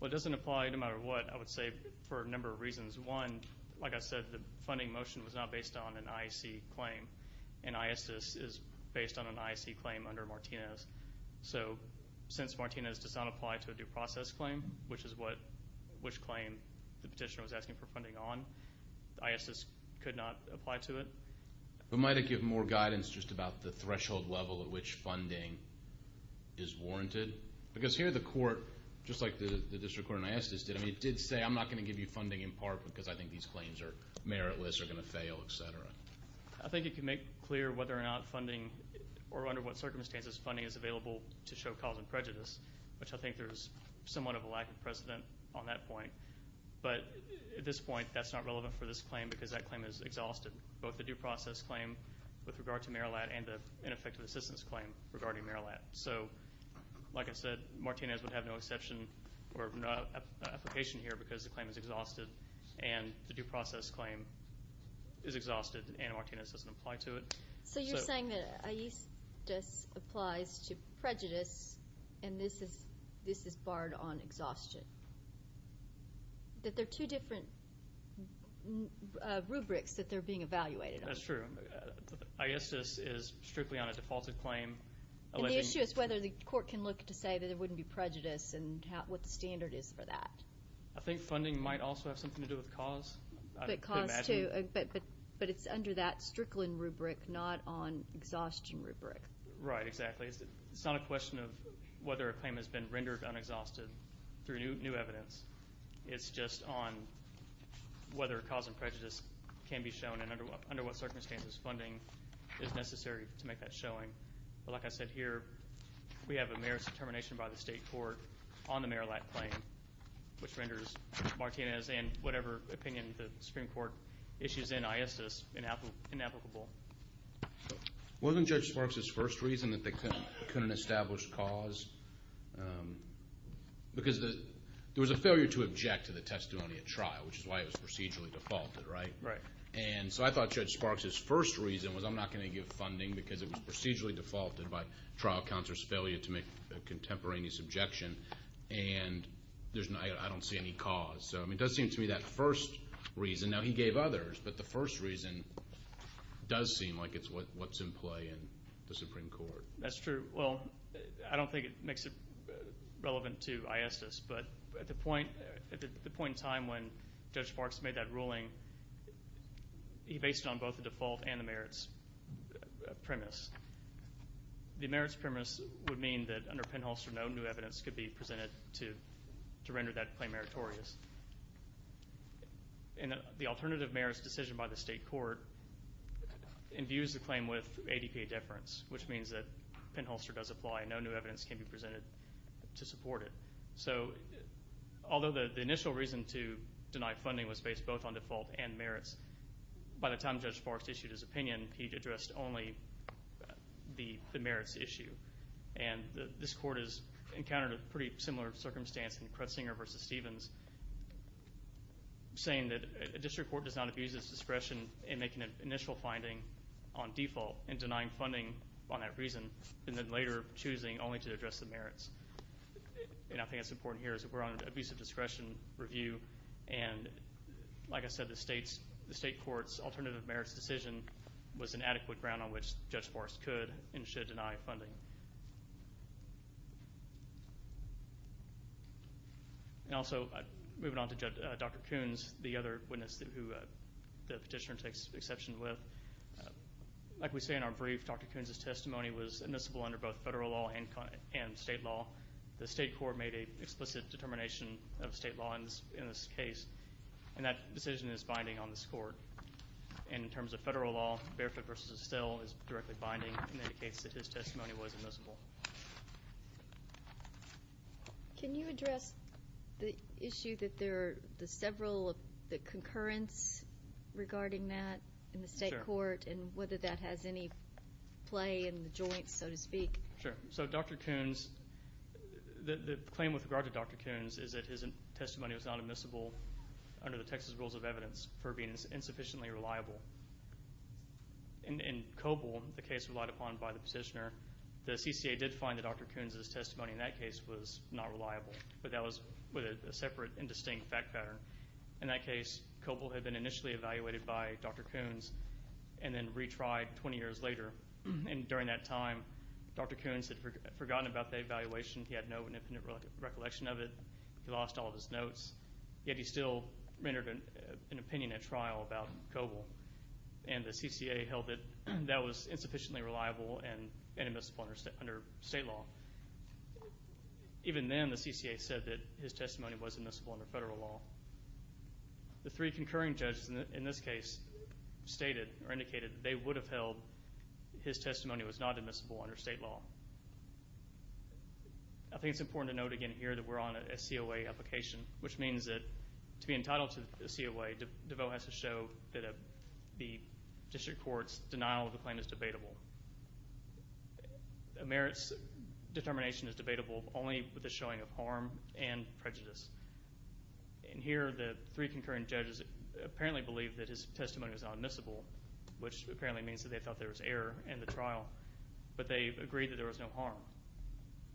Well, it doesn't apply no matter what. I would say for a number of reasons. One, like I said, the funding motion was not based on an IAC claim, and ISDIS is based on an IAC claim under Martinez. So since Martinez does not apply to a due process claim, which is which claim the petitioner was asking for funding on, ISDIS could not apply to it. But might it give more guidance just about the threshold level at which funding is warranted? Because here the court, just like the district court in ISDIS did, it did say I'm not going to give you funding in part because I think these claims are meritless, are going to fail, et cetera. I think it can make clear whether or not funding, or under what circumstances, funding is available to show cause and prejudice, which I think there is somewhat of a lack of precedent on that point. But at this point, that's not relevant for this claim because that claim is exhausted, both the due process claim with regard to Merillat and the ineffective assistance claim regarding Merillat. So, like I said, Martinez would have no exception or no application here because the claim is exhausted and the due process claim is exhausted and Martinez doesn't apply to it. So you're saying that ISDIS applies to prejudice and this is barred on exhaustion. That there are two different rubrics that they're being evaluated on. That's true. ISDIS is strictly on a defaulted claim. And the issue is whether the court can look to say that there wouldn't be prejudice and what the standard is for that. I think funding might also have something to do with cause. But it's under that Strickland rubric, not on exhaustion rubric. Right, exactly. It's not a question of whether a claim has been rendered unexhausted through new evidence. It's just on whether cause and prejudice can be shown and under what circumstances funding is necessary to make that showing. But like I said, here we have a merits determination by the state court on the Merillat claim, which renders Martinez and whatever opinion the Supreme Court issues in ISDIS inapplicable. Wasn't Judge Sparks' first reason that they couldn't establish cause? Because there was a failure to object to the testimony at trial, which is why it was procedurally defaulted, right? Right. And so I thought Judge Sparks' first reason was I'm not going to give funding because it was procedurally defaulted by trial counselor's failure to make a contemporaneous objection. And I don't see any cause. So it does seem to me that first reason, now he gave others, but the first reason does seem like it's what's in play in the Supreme Court. That's true. Well, I don't think it makes it relevant to ISDIS, but at the point in time when Judge Sparks made that ruling, he based it on both the default and the merits premise. The merits premise would mean that under Penholster, no new evidence could be presented to render that claim meritorious. And the alternative merits decision by the state court imbues the claim with ADPA deference, which means that Penholster does apply and no new evidence can be presented to support it. So although the initial reason to deny funding was based both on default and merits, by the time Judge Sparks issued his opinion, he addressed only the merits issue. And this court has encountered a pretty similar circumstance in Kretsinger v. Stevens, saying that a district court does not abuse its discretion in making an initial finding on default and denying funding on that reason and then later choosing only to address the merits. And I think that's important here is that we're on an abusive discretion review, and like I said, the state court's alternative merits decision was an adequate ground on which Judge Sparks could and should deny funding. And also, moving on to Dr. Coons, the other witness who the petitioner takes exception with, like we say in our brief, Dr. Coons' testimony was admissible under both federal law and state law. The state court made an explicit determination of state law in this case, and that decision is binding on this court. And in terms of federal law, Barefoot v. Estelle is directly binding and indicates that his testimony was admissible. Can you address the issue that there are several of the concurrence regarding that in the state court and whether that has any play in the joint, so to speak? Sure. So Dr. Coons, the claim with regard to Dr. Coons is that his testimony was not admissible under the Texas Rules of Evidence for being insufficiently reliable. In Coble, the case relied upon by the petitioner, the CCA did find that Dr. Coons' testimony in that case was not reliable, but that was with a separate and distinct fact pattern. In that case, Coble had been initially evaluated by Dr. Coons and then retried 20 years later. And during that time, Dr. Coons had forgotten about the evaluation. He had no independent recollection of it. He lost all of his notes. Yet he still rendered an opinion at trial about Coble. And the CCA held that that was insufficiently reliable and admissible under state law. Even then, the CCA said that his testimony was admissible under federal law. The three concurring judges in this case stated or indicated that they would have held his testimony was not admissible under state law. I think it's important to note again here that we're on a COA application, which means that to be entitled to a COA, DeVoe has to show that the district court's denial of the claim is debatable. Merit's determination is debatable only with the showing of harm and prejudice. And here, the three concurring judges apparently believe that his testimony was not admissible, which apparently means that they thought there was error in the trial. But they agreed that there was no harm.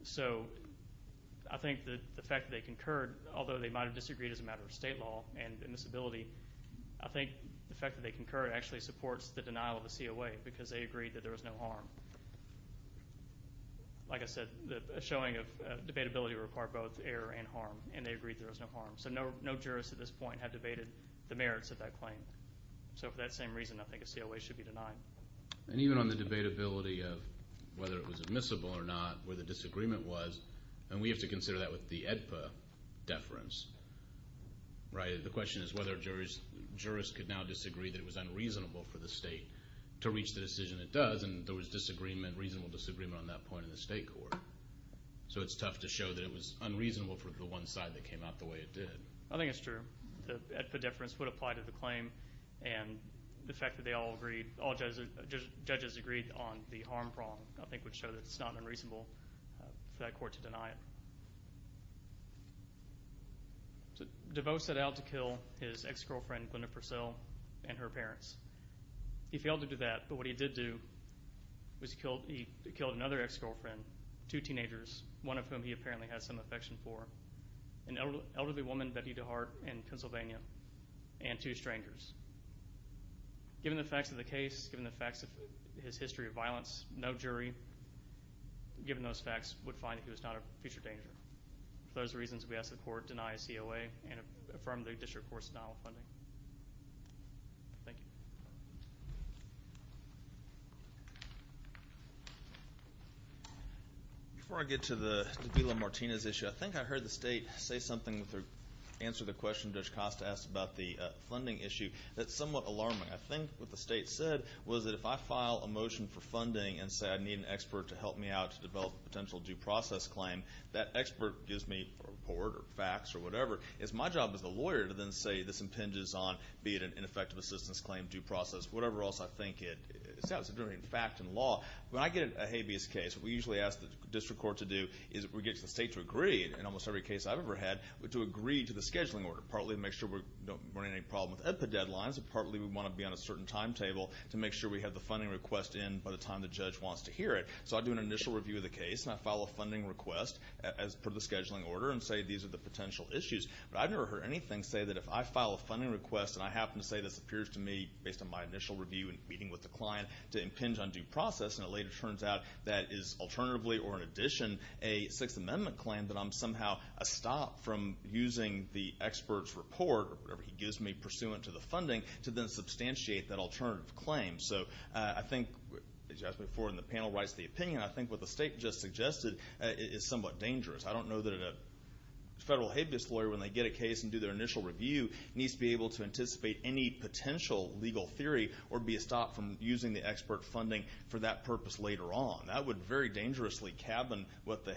So I think that the fact that they concurred, although they might have disagreed as a matter of state law and admissibility, I think the fact that they concurred actually supports the denial of the COA because they agreed that there was no harm. Like I said, the showing of debatability required both error and harm, and they agreed there was no harm. So no jurists at this point have debated the merits of that claim. So for that same reason, I think a COA should be denied. And even on the debatability of whether it was admissible or not, where the disagreement was, and we have to consider that with the AEDPA deference, right? The question is whether jurists could now disagree that it was unreasonable for the state to reach the decision it does, and there was reasonable disagreement on that point in the state court. So it's tough to show that it was unreasonable for the one side that came out the way it did. I think it's true. The AEDPA deference would apply to the claim, and the fact that they all agreed, all judges agreed on the harm problem, I think would show that it's not unreasonable for that court to deny it. DeVos set out to kill his ex-girlfriend, Glenda Purcell, and her parents. He failed to do that, but what he did do was he killed another ex-girlfriend, two teenagers, one of whom he apparently has some affection for, an elderly woman, Betty DeHart, in Pennsylvania, and two strangers. Given the facts of the case, given the facts of his history of violence, no jury, given those facts, would find that he was not a future danger. For those reasons, we ask that the court deny COA and affirm the district court's denial of funding. Thank you. Before I get to the Davila-Martinez issue, I think I heard the State say something with their answer to the question Judge Costa asked about the funding issue. That's somewhat alarming. I think what the State said was that if I file a motion for funding and say I need an expert to help me out to develop a potential due process claim, that expert gives me a report or facts or whatever. It's my job as the lawyer to then say this impinges on, be it an ineffective assistance claim, due process, whatever else I think it is. That was a very important fact in law. When I get a habeas case, what we usually ask the district court to do is we get the State to agree, in almost every case I've ever had, to agree to the scheduling order. Partly to make sure we don't run into any problem with the deadlines, and partly we want to be on a certain timetable to make sure we have the funding request in by the time the judge wants to hear it. So I do an initial review of the case, and I file a funding request as per the scheduling order, and say these are the potential issues. But I've never heard anything say that if I file a funding request and I happen to say this appears to me, based on my initial review and meeting with the client, to impinge on due process, and it later turns out that is alternatively or in addition a Sixth Amendment claim, that I'm somehow a stop from using the expert's report or whatever he gives me pursuant to the funding to then substantiate that alternative claim. So I think, as you asked before and the panel writes the opinion, I think what the State just suggested is somewhat dangerous. I don't know that a federal habeas lawyer, when they get a case and do their initial review, needs to be able to anticipate any potential legal theory or be a stop from using the expert funding for that purpose later on. That would very dangerously cabin what the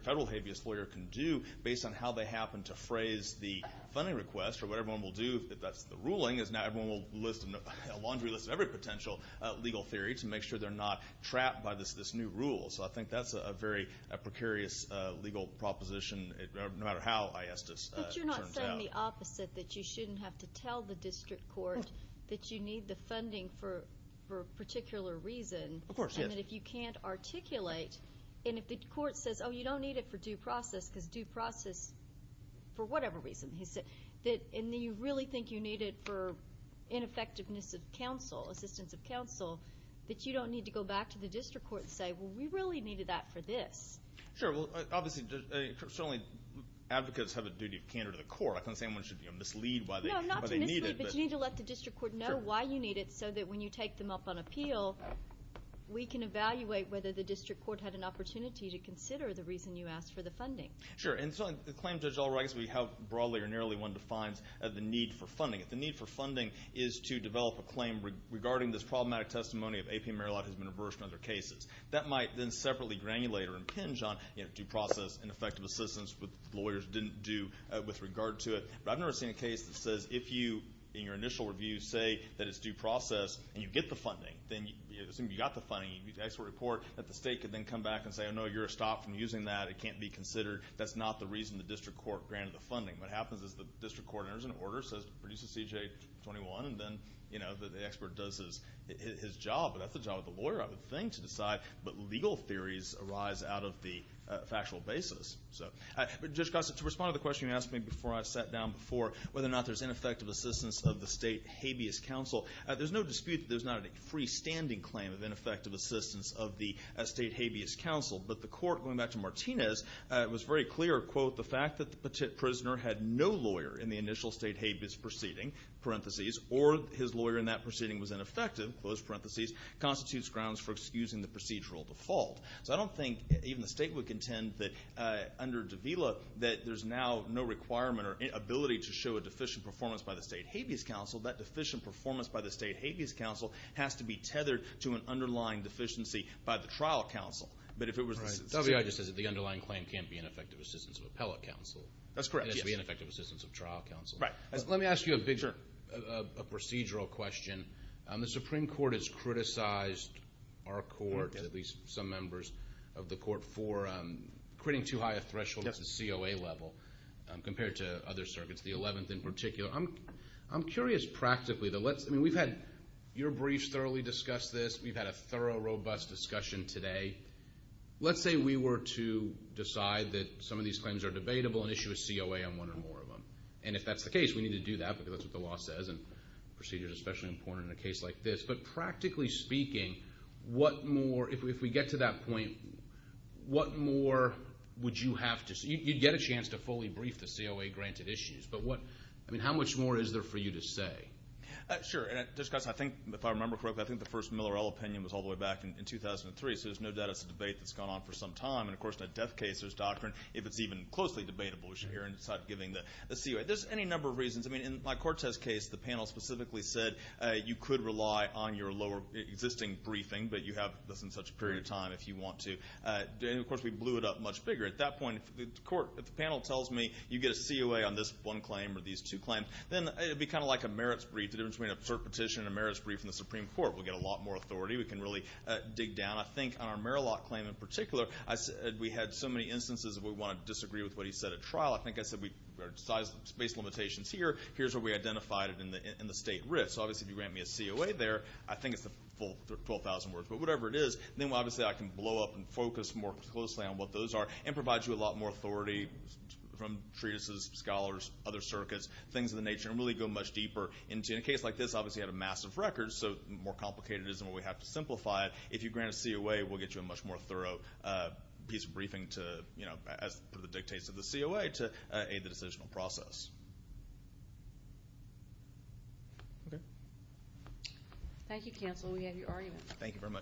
federal habeas lawyer can do, based on how they happen to phrase the funding request, or what everyone will do if that's the ruling, is now everyone will list a laundry list of every potential legal theory to make sure they're not trapped by this new rule. So I think that's a very precarious legal proposition, no matter how ISDIS turns out. But you're not saying the opposite, that you shouldn't have to tell the district court that you need the funding for a particular reason. Of course, yes. And that if you can't articulate, and if the court says, oh, you don't need it for due process, because due process for whatever reason, and you really think you need it for ineffectiveness of counsel, assistance of counsel, that you don't need to go back to the district court and say, well, we really needed that for this. Sure. Well, obviously, certainly advocates have a duty of candor to the court. I'm not saying one should mislead why they need it. No, not to mislead, but you need to let the district court know why you need it, so that when you take them up on appeal, we can evaluate whether the district court had an opportunity to consider the reason you asked for the funding. Sure. And so the claim judge already has broadly or narrowly defined the need for funding. If the need for funding is to develop a claim regarding this problematic testimony of A.P. Merillat has been reversed in other cases, that might then separately granulate or impinge on due process and effective assistance that lawyers didn't do with regard to it. But I've never seen a case that says if you, in your initial review, say that it's due process and you get the funding, then you assume you got the funding, you get the expert report, that the state could then come back and say, oh, no, you're stopped from using that. It can't be considered. That's not the reason the district court granted the funding. What happens is the district court enters into order, produces C.J. 21, and then the expert does his job. But that's the job of the lawyer, I would think, to decide. But legal theories arise out of the factual basis. Judge Gossett, to respond to the question you asked me before I sat down before, whether or not there's ineffective assistance of the state habeas counsel, there's no dispute that there's not a freestanding claim of ineffective assistance of the state habeas counsel. But the court, going back to Martinez, was very clear, quote, the fact that the prisoner had no lawyer in the initial state habeas proceeding, parentheses, or his lawyer in that proceeding was ineffective, close parentheses, constitutes grounds for excusing the procedural default. So I don't think even the state would contend that under Davila that there's now no requirement or ability to show a deficient performance by the state habeas counsel. That deficient performance by the state habeas counsel has to be tethered to an underlying deficiency by the trial counsel. W.I. just says that the underlying claim can't be an effective assistance of appellate counsel. That's correct. It has to be an effective assistance of trial counsel. Let me ask you a procedural question. The Supreme Court has criticized our court, at least some members of the court, for creating too high a threshold at the COA level compared to other circuits, the 11th in particular. I'm curious practically. I mean, we've had your briefs thoroughly discuss this. We've had a thorough, robust discussion today. Let's say we were to decide that some of these claims are debatable and issue a COA on one or more of them. And if that's the case, we need to do that because that's what the law says, and procedures are especially important in a case like this. But practically speaking, what more, if we get to that point, what more would you have to see? You'd get a chance to fully brief the COA-granted issues. But what, I mean, how much more is there for you to say? Sure. And I think, if I remember correctly, I think the first Miller-Ell opinion was all the way back in 2003, so there's no doubt it's a debate that's gone on for some time. And, of course, in a death case, there's doctrine. If it's even closely debatable, we should hear inside giving the COA. There's any number of reasons. I mean, in my court test case, the panel specifically said you could rely on your lower existing briefing, but you have this in such a period of time if you want to. And, of course, we blew it up much bigger. At that point, if the panel tells me you get a COA on this one claim or these two claims, then it would be kind of like a merits brief. The difference between an absurd petition and a merits brief in the Supreme Court. We get a lot more authority. We can really dig down. I think on our Merillat claim in particular, we had so many instances where we wanted to disagree with what he said at trial. I think I said we had space limitations here. Here's where we identified it in the state writ. So, obviously, if you grant me a COA there, I think it's the full 12,000 words. But whatever it is, then, obviously, I can blow up and focus more closely on what those are and provide you a lot more authority from treatises, scholars, other circuits, things of the nature, and really go much deeper into it. In a case like this, obviously, you have a massive record, so the more complicated it is, the more we have to simplify it. If you grant a COA, we'll get you a much more thorough piece of briefing to, as per the dictates of the COA, to aid the decisional process. Okay. Thank you, counsel. We have your argument. Thank you very much.